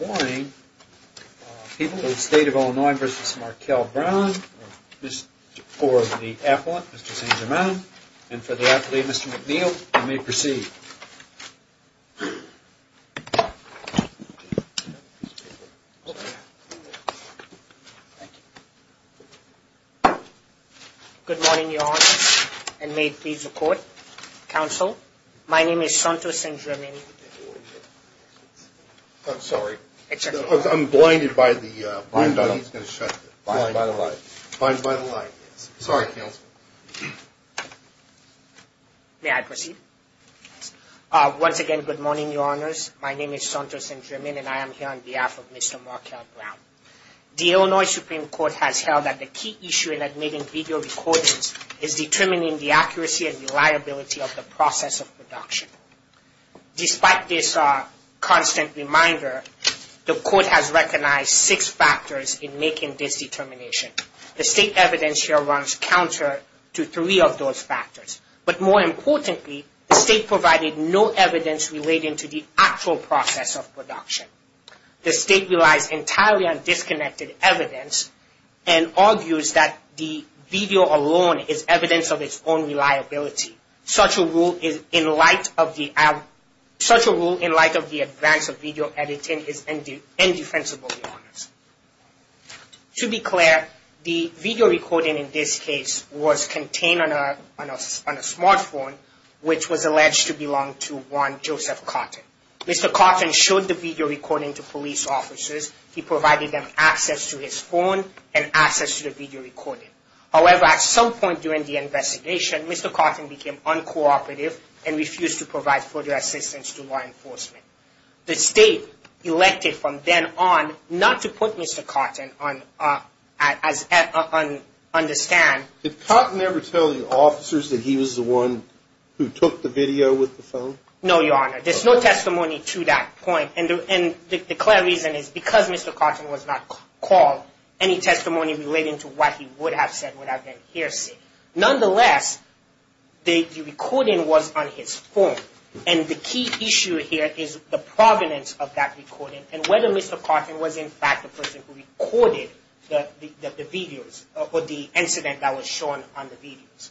morning. People in the state of Illinois versus Markel Brown, this for the appellant, Mr. St. Germain, and for the athlete, Mr. McNeil, you may proceed. Good morning, your honor, and may it please the court, counsel. My name is Santo St. Germain. May I proceed? Once again, good morning, your honors. My name is Santo St. Germain and I am here on behalf of Mr. Markel Brown. The Illinois Supreme Court has held that the key issue in admitting video recordings is determining the accuracy and reliability of the process of production. Despite this constant reminder, the court has recognized six factors in making this determination. The state evidence here runs counter to three of those factors, but more importantly, the state provided no evidence relating to the actual process of production. The state relies entirely on disconnected evidence and argues that the video alone is evidence of its own reliability. Such a rule in light of the advance of video editing is indefensible, your honors. To be clear, the video recording in this case was contained on a smartphone, which was alleged to belong to one Joseph Cotton. Mr. Cotton showed the video recording to police officers. He provided them access to his phone and access to the video recording. However, at some point during the investigation, Mr. Cotton became uncooperative and refused to provide further assistance to law enforcement. The state elected from then on not to put Mr. Cotton on the stand. Did Cotton ever tell the officers that he was the one who took the video with the phone? No, your honor. There's no testimony to that point, and the clear reason is because Mr. Cotton was not called, any testimony relating to what he would have said would have been hearsay. Nonetheless, the recording was on his phone, and the key issue here is the provenance of that recording and whether Mr. Cotton was in fact the person who recorded the videos or the incident that was shown on the videos.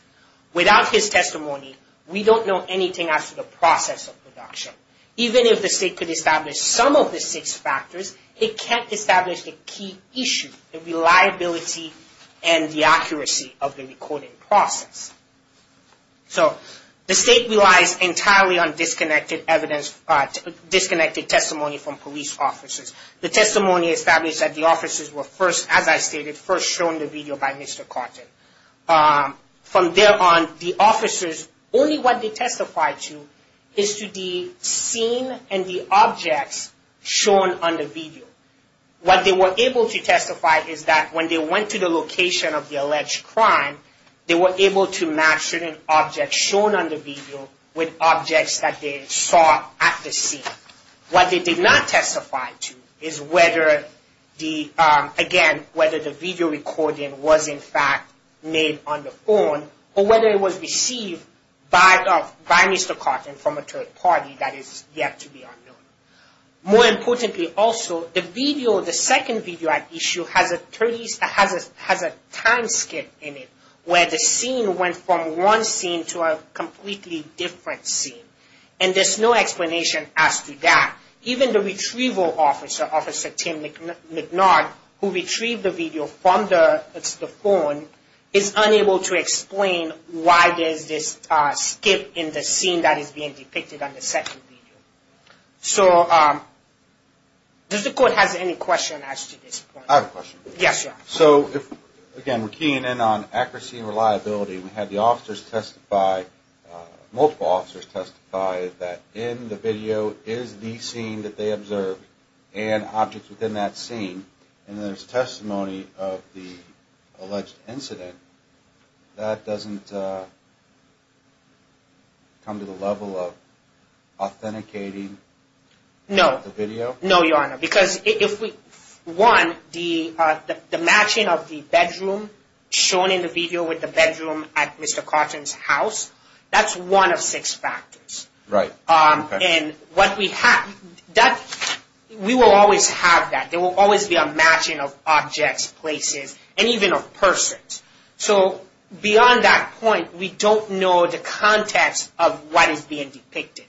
Without his testimony, we don't know anything as to the process of production. Even if the state could establish some of the six factors, it can't establish the key issue, the reliability and the accuracy of the recording process. So the state relies entirely on disconnected testimony from police officers. The testimony established that the officers were first, as I stated, first shown the video by Mr. Cotton. From there on, the officers, only what they testified to is to the scene and the objects shown on the video. What they were able to testify is that when they went to the location of the video, they were able to match certain objects shown on the video with objects that they saw at the scene. What they did not testify to is whether the video recording was in fact made on the phone or whether it was received by Mr. Cotton from a third party that is yet to be unknown. More importantly also, the video, the second video at issue has a time skip in it where the scene went from one scene to a completely different scene. And there's no explanation as to that. Even the retrieval officer, Officer Tim McNard, who retrieved the video from the phone is unable to explain why there's this skip in the scene that is being depicted on the second video. So does the court have any questions as to this point? I have a question. Yes, Your Honor. So again, we're keying in on accuracy and reliability. We had the officers testify, multiple officers testify that in the video is the scene that they observed and objects within that scene. And there's testimony of the alleged incident. That doesn't come to the level of authenticating the video? No, Your Honor. Because if we, one, the matching of the bedroom shown in the video with the bedroom at Mr. Cotton's house, that's one of six factors. Right. We will always have that. There will always be a matching of objects, places, and even of persons. So beyond that point, we don't know the context of what is being depicted.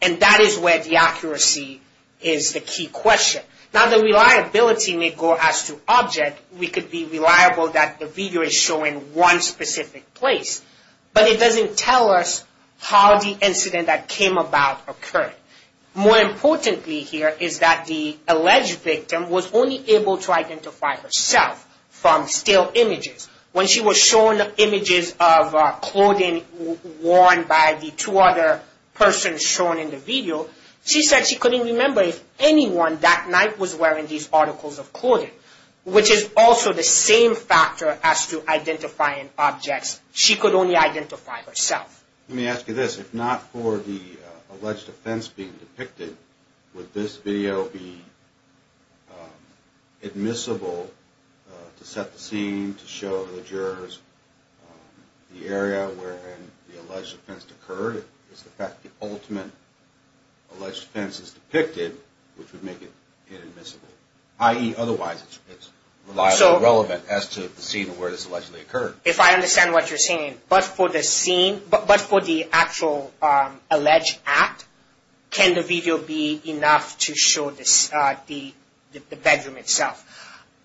And that is where the accuracy is the key question. Now the reliability may go as to object. We could be reliable that the video is showing one specific place. But it doesn't tell us how the incident that came about occurred. More importantly here is that the alleged victim was only able to identify herself from still images. When she was shown images of clothing worn by the two other persons shown in the video, she said she couldn't remember if anyone that night was wearing these articles of clothing. Which is also the same factor as to identifying objects. She could only identify herself. Let me ask you this. If not for the alleged offense being depicted, would this video be admissible to set the scene, to show the jurors the area where the alleged offense occurred? If I understand what you're saying, but for the scene, but for the actual alleged act, can the video be enough to show the bedroom itself?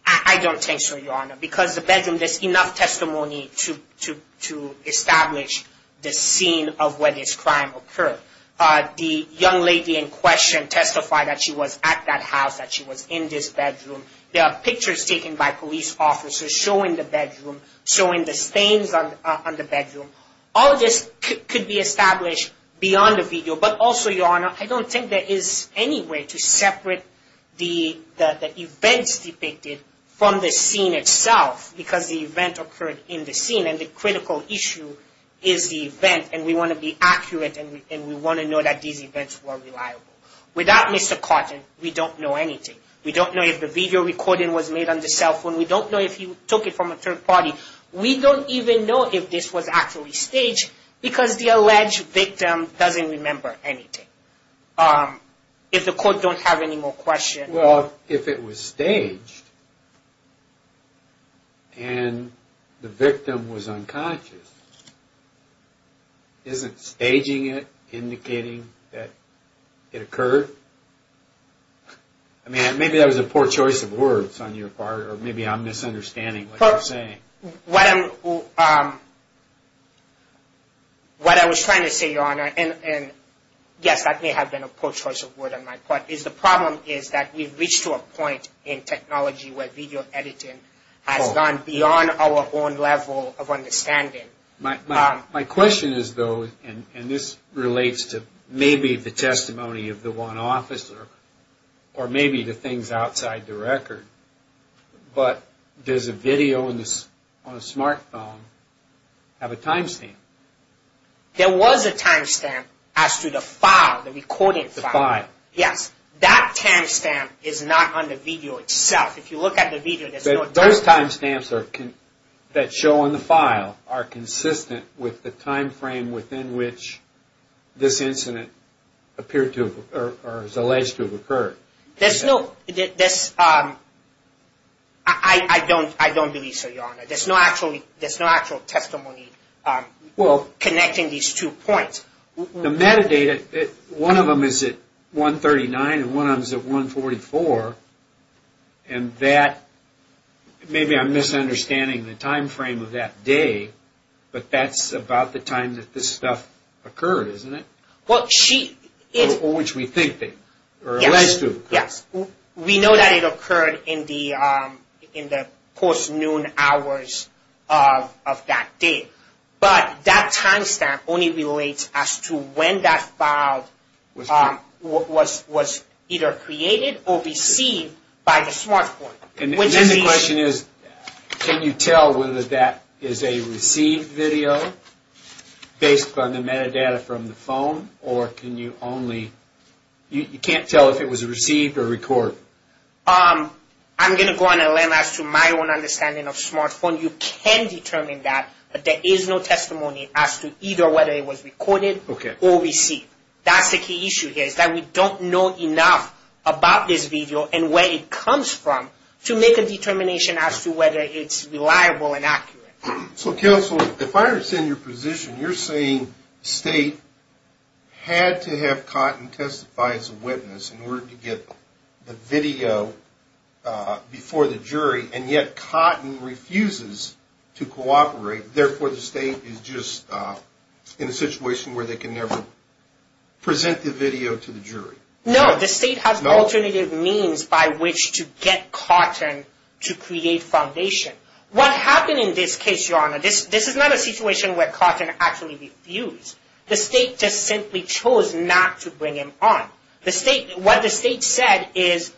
I don't think so, Your Honor. Because the bedroom, there's enough testimony to establish the scene of where this crime occurred. The young lady in question testified that she was at that house, that she was in this bedroom. There are pictures taken by police officers showing the bedroom, showing the stains on the bedroom. All of this could be established beyond the video, but also, Your Honor, I don't think there is any way to separate the events depicted from the scene itself. Because the event occurred in the scene, and the critical issue is the event, and we want to be accurate, and we want to know that these events were reliable. Without Mr. Cotton, we don't know anything. We don't know if the video recording was made on the cell phone. We don't know if he took it from a third party. We don't even know if this was actually staged, because the alleged victim doesn't remember anything. If the court don't have any more questions. Well, if it was staged, and the victim was unconscious, isn't staging it indicating that it occurred? I mean, maybe that was a poor choice of words on your part, or maybe I'm misunderstanding what you're saying. What I was trying to say, Your Honor, and yes, that may have been a poor choice of words on my part, is the problem is that we've reached to a point in technology where video editing has gone beyond our own level of understanding. My question is though, and this relates to maybe the testimony of the one officer, or maybe the things outside the record, but does a video on a smart phone have a timestamp? There was a timestamp as to the file, the recording file. The file. Yes. That timestamp is not on the video itself. If you look at the video, there's no timestamp. Those timestamps that show on the file are consistent with the time frame within which this incident appeared to, or is alleged to have occurred. There's no, I don't believe so, Your Honor. There's no actual testimony connecting these two points. The metadata, one of them is at 1.39 and one of them is at 1.44, and that, maybe I'm misunderstanding the time frame of that day, but that's about the time that this stuff occurred, isn't it? Or which we think they, or alleged to have occurred. Yes. We know that it occurred in the post-noon hours of that day, but that timestamp only relates as to when that file was either created or received by the smart phone. And then the question is, can you tell whether that is a received video based on the metadata from the phone, or can you only, you can't tell if it was received or recorded? I'm going to go on and land as to my own understanding of smart phone. You can determine that, but there is no testimony as to either whether it was recorded or received. That's the key issue here, is that we don't know enough about this video and where it comes from to make a determination as to whether it's reliable and accurate. So Counselor, if I understand your position, you're saying the state had to have Cotton testify as a witness in order to get the video before the jury, and yet Cotton refuses to cooperate, therefore the state is just in a situation where they can never present the video to the jury. No, the state has alternative means by which to get Cotton to create foundation. What happened in this case, Your Honor, this is not a situation where Cotton actually refused. The state just simply chose not to bring him on. What the state said is,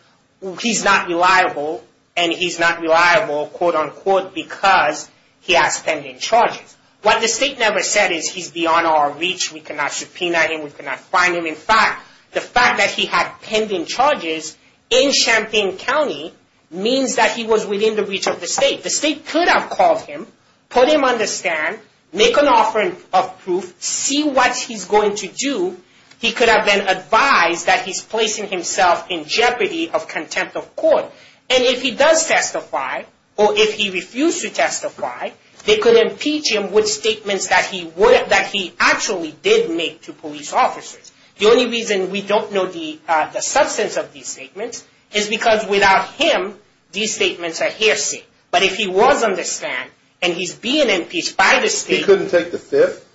he's not reliable, and he's not reliable, quote unquote, because he has pending charges. What the state never said is, he's beyond our reach, we cannot subpoena him, we cannot find him. In fact, the fact that he had pending charges in Champaign County means that he was within the reach of the state. The state could have called him, put him on the stand, make an offering of proof, see what he's going to do. He could have been advised that he's placing himself in jeopardy of contempt of court. And if he does testify, or if he refused to testify, they could impeach him with statements that he actually did make to police officers. The only reason we don't know the substance of these statements is because without him, these statements are hearsay. But if he was on the stand, and he's being impeached by the state... He couldn't take the fifth?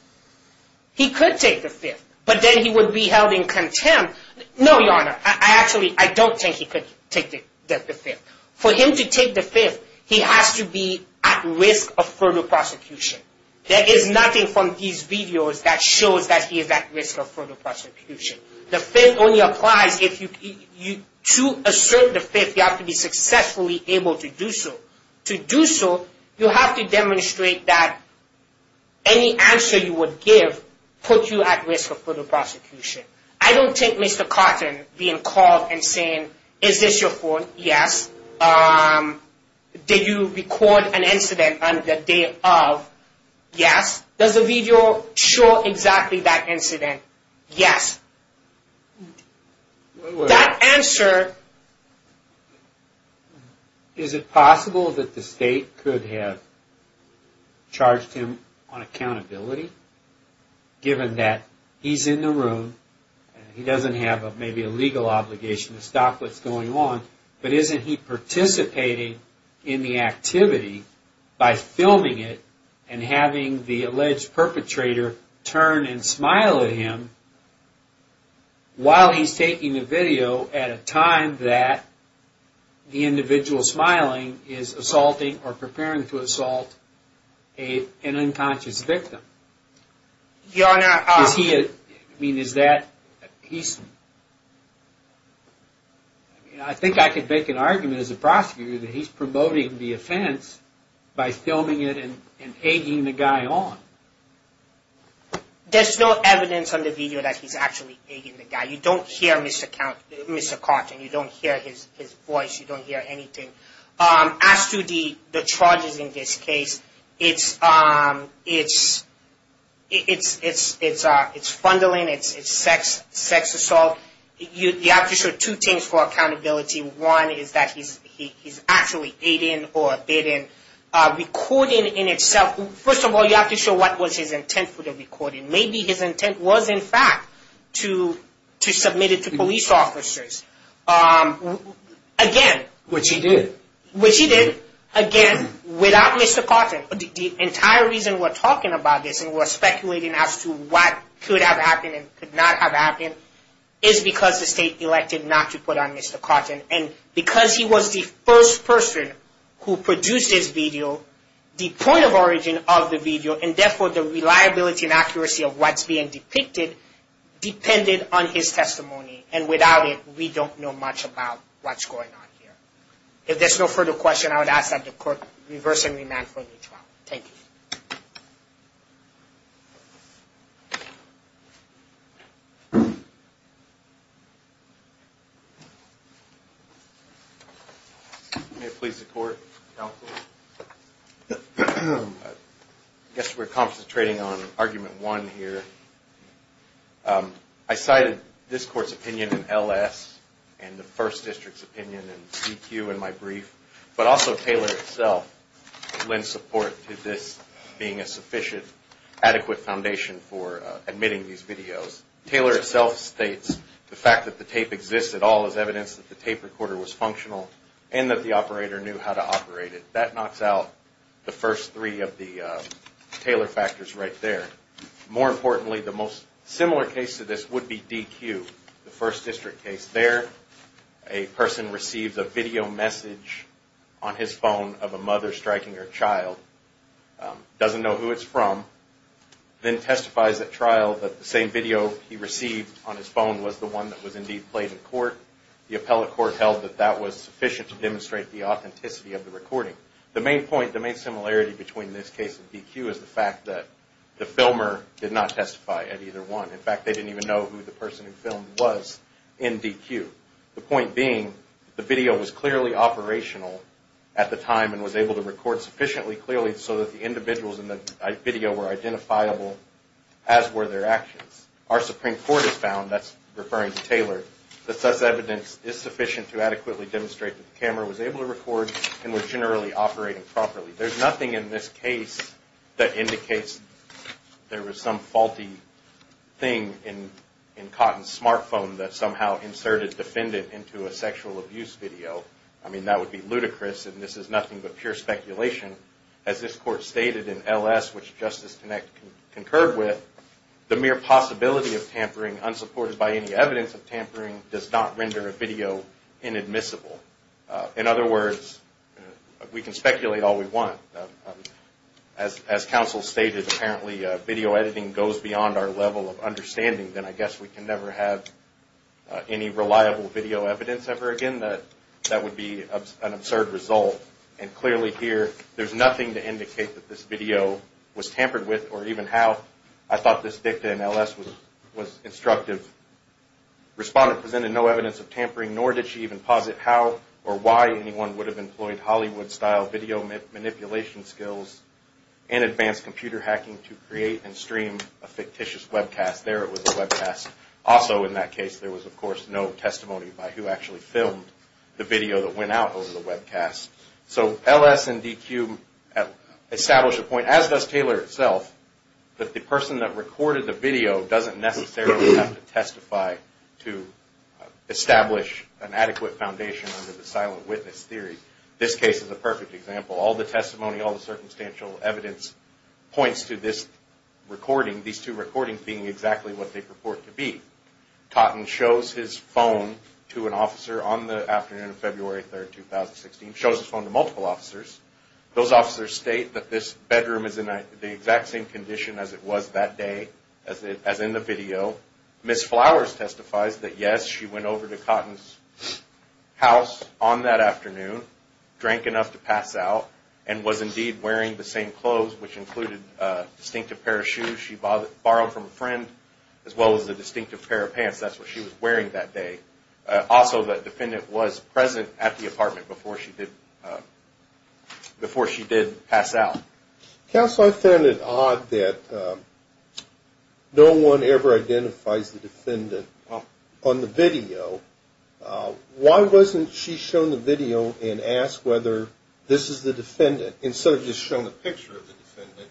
He could take the fifth, but then he would be held in contempt. No, Your Honor, I actually, I don't think he could take the fifth. For him to take the fifth, he has to be at risk of further prosecution. There is nothing from these videos that shows that he is at risk of further prosecution. The fifth only applies if you, to assert the fifth, you have to be successfully able to do so. To do so, you have to demonstrate that any answer you would give puts you at risk of further prosecution. I don't take Mr. Cotton being called and saying, is this your phone? Yes. Did you record an incident on the day of? Yes. Does the video show exactly that incident? Yes. That answer... Is it possible that the state could have charged him on accountability? Given that he's in the room, he doesn't have maybe a legal obligation to stop what's going on, but isn't he participating in the activity by filming it and having the alleged perpetrator turn and smile at him while he's taking the video at a time that the individual smiling is assaulting or preparing to assault an unconscious victim? Your Honor... I think I could make an argument as a prosecutor that he's promoting the offense by filming it and egging the guy on. There's no evidence on the video that he's actually egging the guy. You don't hear Mr. Cotton. You don't hear his voice. You don't hear anything. As to the charges in this case, it's fundling, it's sex assault. You have to show two things for accountability. One is that he's actually aiding or abetting recording in itself. First of all, you have to show what was his intent for the recording. Maybe his intent was, in fact, to submit it to police officers. Which he did. Which he did, again, without Mr. Cotton. The entire reason we're talking about this and we're speculating as to what could have happened and could not have happened is because the state elected not to put on Mr. Cotton. And because he was the first person who produced this video, the point of origin of the video and therefore the reliability and accuracy of what's being depicted depended on his testimony. And without it, we don't know much about what's going on here. If there's no further question, I would ask that the court reverse and remand for a new trial. Thank you. May it please the court, counsel. I guess we're concentrating on argument one here. I cited this court's opinion in LS and the first district's opinion in CQ in my brief, but also Taylor itself lent support to this being a sufficient, adequate foundation for admitting these videos. Taylor itself states the fact that the tape exists at all is evidence that the tape recorder was functional and that the operator knew how to operate it. That knocks out the first three of the Taylor factors right there. More importantly, the most similar case to this would be DQ, the first district case. There, a person receives a video message on his phone of a mother striking her child, doesn't know who it's from, then testifies at trial that the same video he received on his phone The appellate court held that that was sufficient to demonstrate the authenticity of the recording. The main similarity between this case and DQ is the fact that the filmer did not testify at either one. In fact, they didn't even know who the person who filmed was in DQ. The point being, the video was clearly operational at the time and was able to record sufficiently clearly so that the individuals in the video were identifiable as were their actions. Our Supreme Court has found, that's referring to Taylor, that such evidence is sufficient to adequately demonstrate that the camera was able to record and was generally operating properly. There's nothing in this case that indicates there was some faulty thing in Cotton's smartphone that somehow inserted defendant into a sexual abuse video. I mean, that would be ludicrous and this is nothing but pure speculation. As this court stated in LS, which Justice Connect concurred with, the mere possibility of tampering, unsupported by any evidence of tampering, does not render a video inadmissible. In other words, we can speculate all we want. As counsel stated, apparently video editing goes beyond our level of understanding, then I guess we can never have any reliable video evidence ever again. That would be an absurd result. And clearly here, there's nothing to indicate that this video was tampered with or even how. I thought this dicta in LS was instructive. Respondent presented no evidence of tampering, nor did she even posit how or why anyone would have employed Hollywood-style video manipulation skills and advanced computer hacking to create and stream a fictitious webcast. There it was a webcast. Also in that case, there was of course no testimony by who actually filmed the video that went out over the webcast. So LS and DQ establish a point, as does Taylor itself, that the person that recorded the video doesn't necessarily have to testify to establish an adequate foundation under the silent witness theory. This case is a perfect example. All the testimony, all the circumstantial evidence points to this recording, these two recordings being exactly what they purport to be. Cotton shows his phone to an officer on the afternoon of February 3, 2016, shows his phone to multiple officers. Those officers state that this bedroom is in the exact same condition as it was that day, as in the video. Ms. Flowers testifies that yes, she went over to Cotton's house on that afternoon, drank enough to pass out, and was indeed wearing the same clothes, which included a distinctive pair of shoes she borrowed from a friend as well as a distinctive pair of pants. That's what she was wearing that day. Also, the defendant was present at the apartment before she did pass out. Counsel, I found it odd that no one ever identifies the defendant on the video. Why wasn't she shown the video and asked whether this is the defendant instead of just showing a picture of the defendant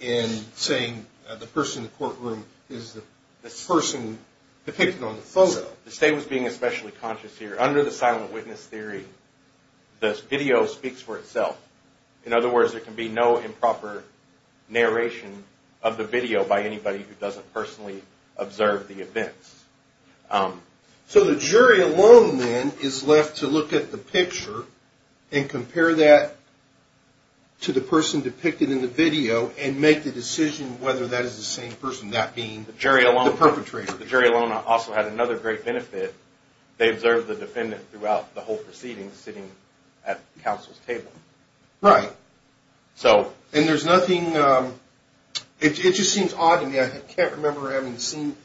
and saying the person in the courtroom is the person depicted on the photo? The state was being especially conscious here. Under the silent witness theory, the video speaks for itself. In other words, there can be no improper narration of the video by anybody who doesn't personally observe the events. So the jury alone then is left to look at the picture and compare that to the person depicted in the video and make the decision whether that is the same person, that being the perpetrator. The jury alone also had another great benefit. They observed the defendant throughout the whole proceeding sitting at counsel's table. Right. And there's nothing—it just seems odd to me. I can't remember having seen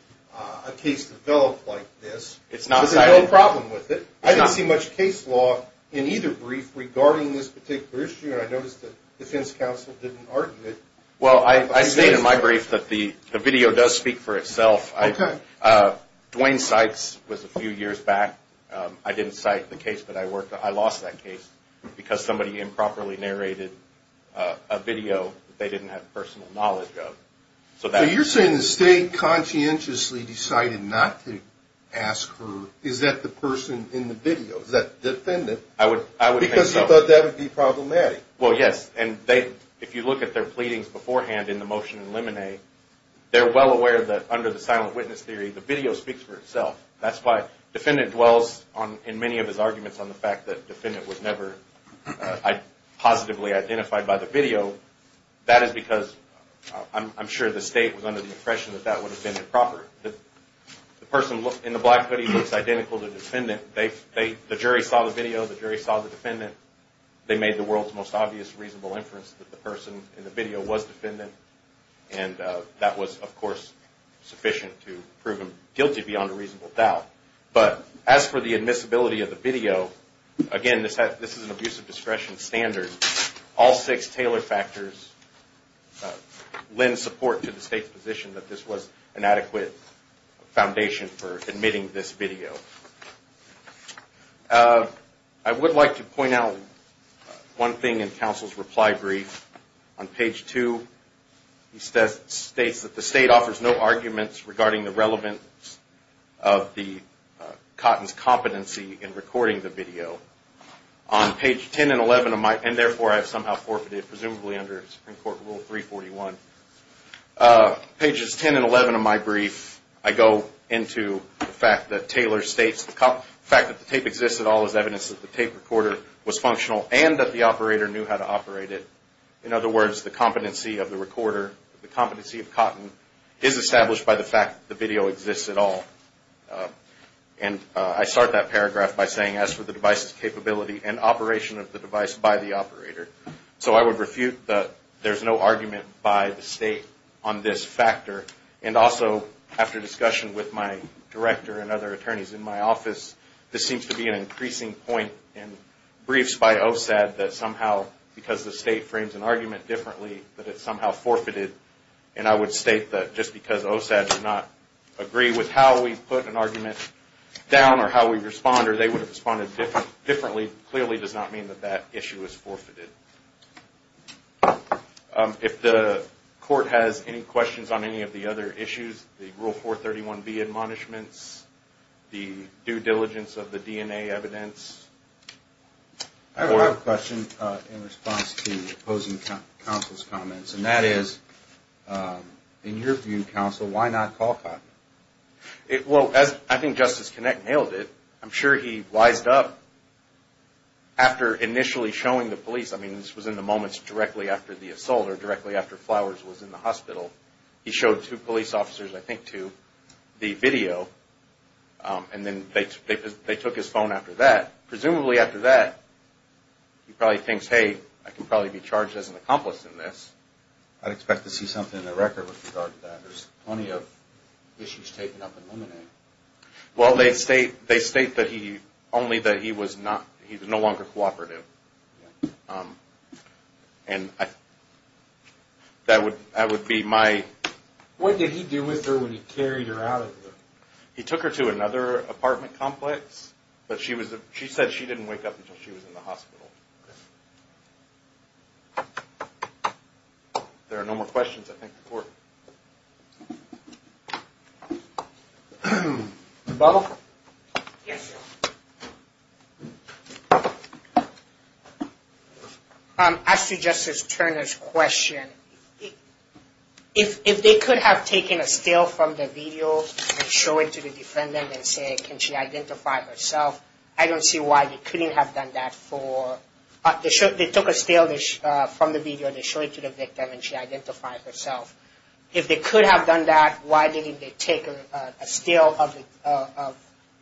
a case develop like this. It's not silent. There's no problem with it. I didn't see much case law in either brief regarding this particular issue, and I noticed the defense counsel didn't argue it. Well, I state in my brief that the video does speak for itself. Okay. Duane Sykes was a few years back. I didn't cite the case, but I lost that case because somebody improperly narrated a video that they didn't have personal knowledge of. So you're saying the state conscientiously decided not to ask her, is that the person in the video, is that the defendant? I would think so. Because you thought that would be problematic. Well, yes, and if you look at their pleadings beforehand in the motion in Lemonnet, they're well aware that under the silent witness theory, the video speaks for itself. That's why defendant dwells in many of his arguments on the fact that the defendant was never positively identified by the video. That is because I'm sure the state was under the impression that that would have been improper. The person in the black hoodie looks identical to the defendant. The jury saw the video. The jury saw the defendant. They made the world's most obvious reasonable inference that the person in the video was defendant, and that was, of course, sufficient to prove him guilty beyond a reasonable doubt. But as for the admissibility of the video, again, this is an abuse of discretion standard. All six Taylor factors lend support to the state's position that this was an adequate foundation for admitting this video. I would like to point out one thing in counsel's reply brief. On page 2, he states that the state offers no arguments regarding the relevance of Cotton's competency in recording the video. On page 10 and 11 of my, and therefore I have somehow forfeited, presumably under Supreme Court Rule 341, pages 10 and 11 of my brief, I go into the fact that Taylor states the fact that the tape exists at all is evidence that the tape recorder was functional and that the operator knew how to operate it. In other words, the competency of the recorder, the competency of Cotton, is established by the fact that the video exists at all. And I start that paragraph by saying, as for the device's capability and operation of the device by the operator. So I would refute that there's no argument by the state on this factor. And also, after discussion with my director and other attorneys in my office, this seems to be an increasing point in briefs by OSAD that somehow, because the state frames an argument differently, that it's somehow forfeited. And I would state that just because OSAD did not agree with how we put an argument down or how we respond or they would have responded differently, clearly does not mean that that issue is forfeited. If the court has any questions on any of the other issues, the Rule 431B admonishments, the due diligence of the DNA evidence. I have a question in response to opposing counsel's comments. And that is, in your view, counsel, why not call Cotton? Well, I think Justice Kinnick nailed it. I'm sure he wised up after initially showing the police. I mean, this was in the moments directly after the assault or directly after Flowers was in the hospital. He showed two police officers, I think two, the video. And then they took his phone after that. Presumably after that, he probably thinks, hey, I can probably be charged as an accomplice in this. I'd expect to see something in the record with regard to that. There's plenty of issues taken up in Luminary. Well, they state only that he was no longer cooperative. And that would be my... What did he do with her when he carried her out of there? He took her to another apartment complex. But she said she didn't wake up until she was in the hospital. There are no more questions, I think, before... Bo? Yes, sir. I suggested Turner's question. If they could have taken a still from the video and show it to the defendant and say, can she identify herself, I don't see why they couldn't have done that for... They took a still from the video and they showed it to the victim and she identified herself. If they could have done that, why didn't they take a still of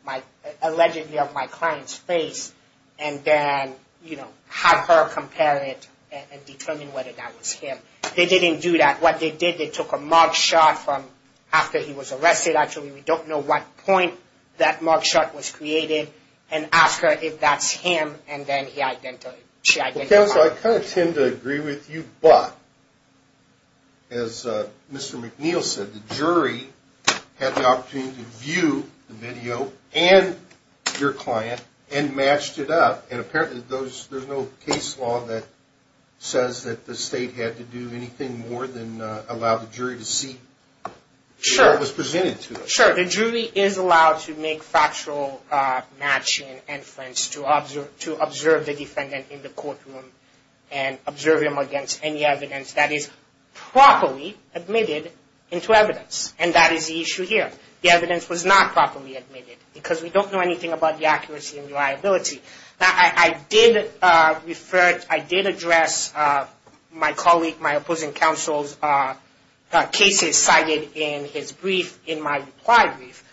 my... Allegedly of my client's face and then, you know, have her compare it and determine whether that was him. They didn't do that. What they did, they took a mug shot from after he was arrested. Actually, we don't know what point that mug shot was created and asked her if that's him. And then she identified... Counsel, I kind of tend to agree with you. But as Mr. McNeil said, the jury had the opportunity to view the video and your client and matched it up. And apparently, there's no case law that says that the state had to do anything more than allow the jury to see what was presented to them. Sure. The jury is allowed to make factual matching and inference to observe the defendant in the courtroom and observe him against any evidence that is properly admitted into evidence. And that is the issue here. The evidence was not properly admitted because we don't know anything about the accuracy and reliability. Now, I did refer... I did address my colleague, my opposing counsel's cases cited in his brief in my reply brief.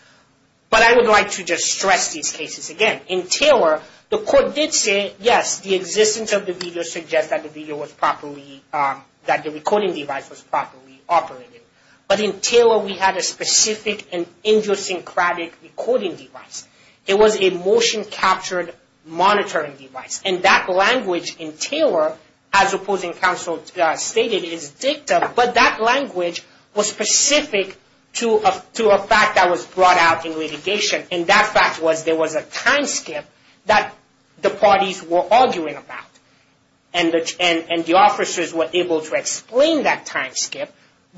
But I would like to just stress these cases again. In Taylor, the court did say, yes, the existence of the video suggests that the video was properly... that the recording device was properly operated. But in Taylor, we had a specific and idiosyncratic recording device. It was a motion-captured monitoring device. And that language in Taylor, as opposing counsel stated, is dicta. But that language was specific to a fact that was brought out in litigation. And that fact was there was a time skip that the parties were arguing about. And the officers were able to explain that time skip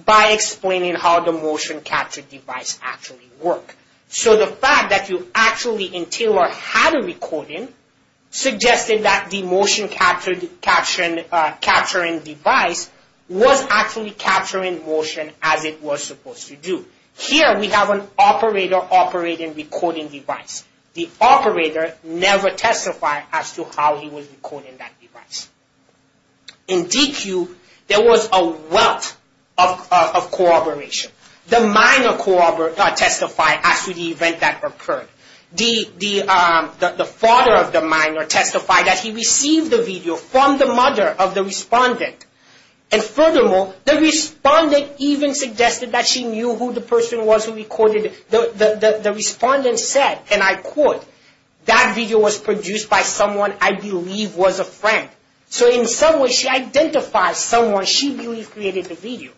by explaining how the motion-captured device actually worked. So the fact that you actually, in Taylor, had a recording suggested that the motion-captured capturing device was actually capturing motion as it was supposed to do. Here, we have an operator operating recording device. The operator never testified as to how he was recording that device. In DQ, there was a wealth of corroboration. The minor testified as to the event that occurred. The father of the minor testified that he received the video from the mother of the respondent. And furthermore, the respondent even suggested that she knew who the person was who recorded it. The respondent said, and I quote, that video was produced by someone I believe was a friend. So in some way, she identifies someone she believes created the video.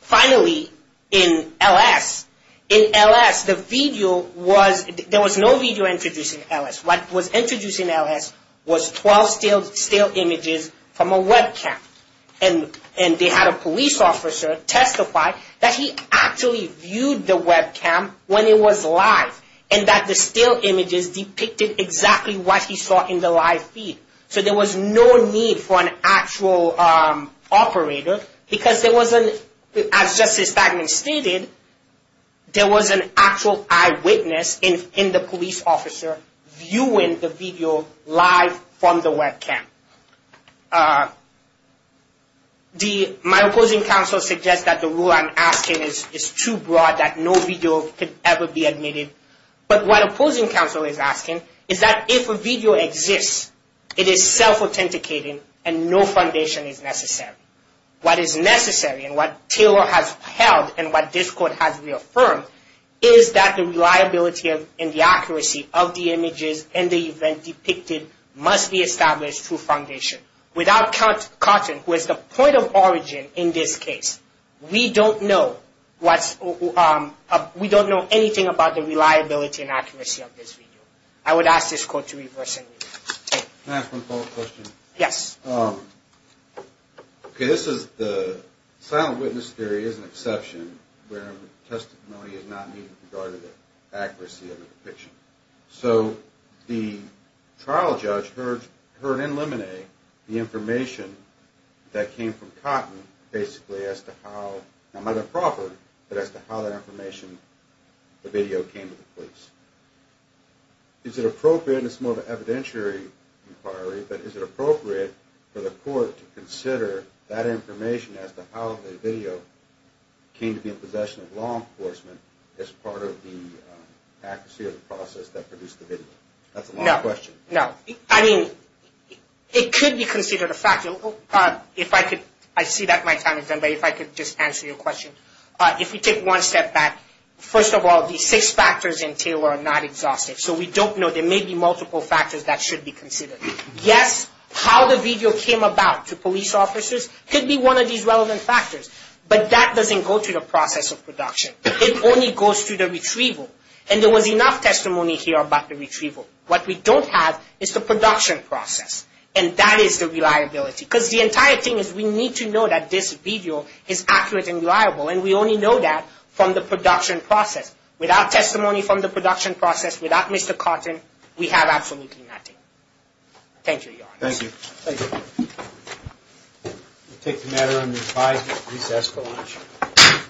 Finally, in LS, in LS, the video was, there was no video introduced in LS. What was introduced in LS was 12 stale images from a webcam. And they had a police officer testify that he actually viewed the webcam when it was live. And that the stale images depicted exactly what he saw in the live feed. So there was no need for an actual operator because there was an, as Justice Bagman stated, there was an actual eyewitness in the police officer viewing the video live from the webcam. My opposing counsel suggests that the rule I'm asking is too broad, that no video could ever be admitted. But what opposing counsel is asking is that if a video exists, it is self-authenticating and no foundation is necessary. What is necessary and what Taylor has held and what this court has reaffirmed, is that the reliability and the accuracy of the images and the event depicted must be established through foundation. Without Count Cotton, who is the point of origin in this case, we don't know what's, we don't know anything about the reliability and accuracy of this video. I would ask this court to reverse and review. Can I ask one follow-up question? Yes. Okay, this is the silent witness theory is an exception where testimony is not needed regarding the accuracy of the depiction. So the trial judge heard in Lemonade the information that came from Cotton basically as to how, not by the proffered, but as to how that information, the video came to the police. Is it appropriate, and it's more of an evidentiary inquiry, but is it appropriate for the court to consider that information as to how the video came to be in possession of law enforcement as part of the accuracy of the process that produced the video? That's a long question. No, no. I mean, it could be considered a fact. If I could, I see that my time is done, but if I could just answer your question. If we take one step back, first of all, the six factors in Taylor are not exhaustive, so we don't know. There may be multiple factors that should be considered. Yes, how the video came about to police officers could be one of these relevant factors, but that doesn't go to the process of production. It only goes to the retrieval, and there was enough testimony here about the retrieval. What we don't have is the production process, and that is the reliability, because the entire thing is we need to know that this video is accurate and reliable, and we only know that from the production process. Without testimony from the production process, without Mr. Cotton, we have absolutely nothing. Thank you, Your Honor. Thank you. Thank you. We'll take the matter under revised at recess for lunch.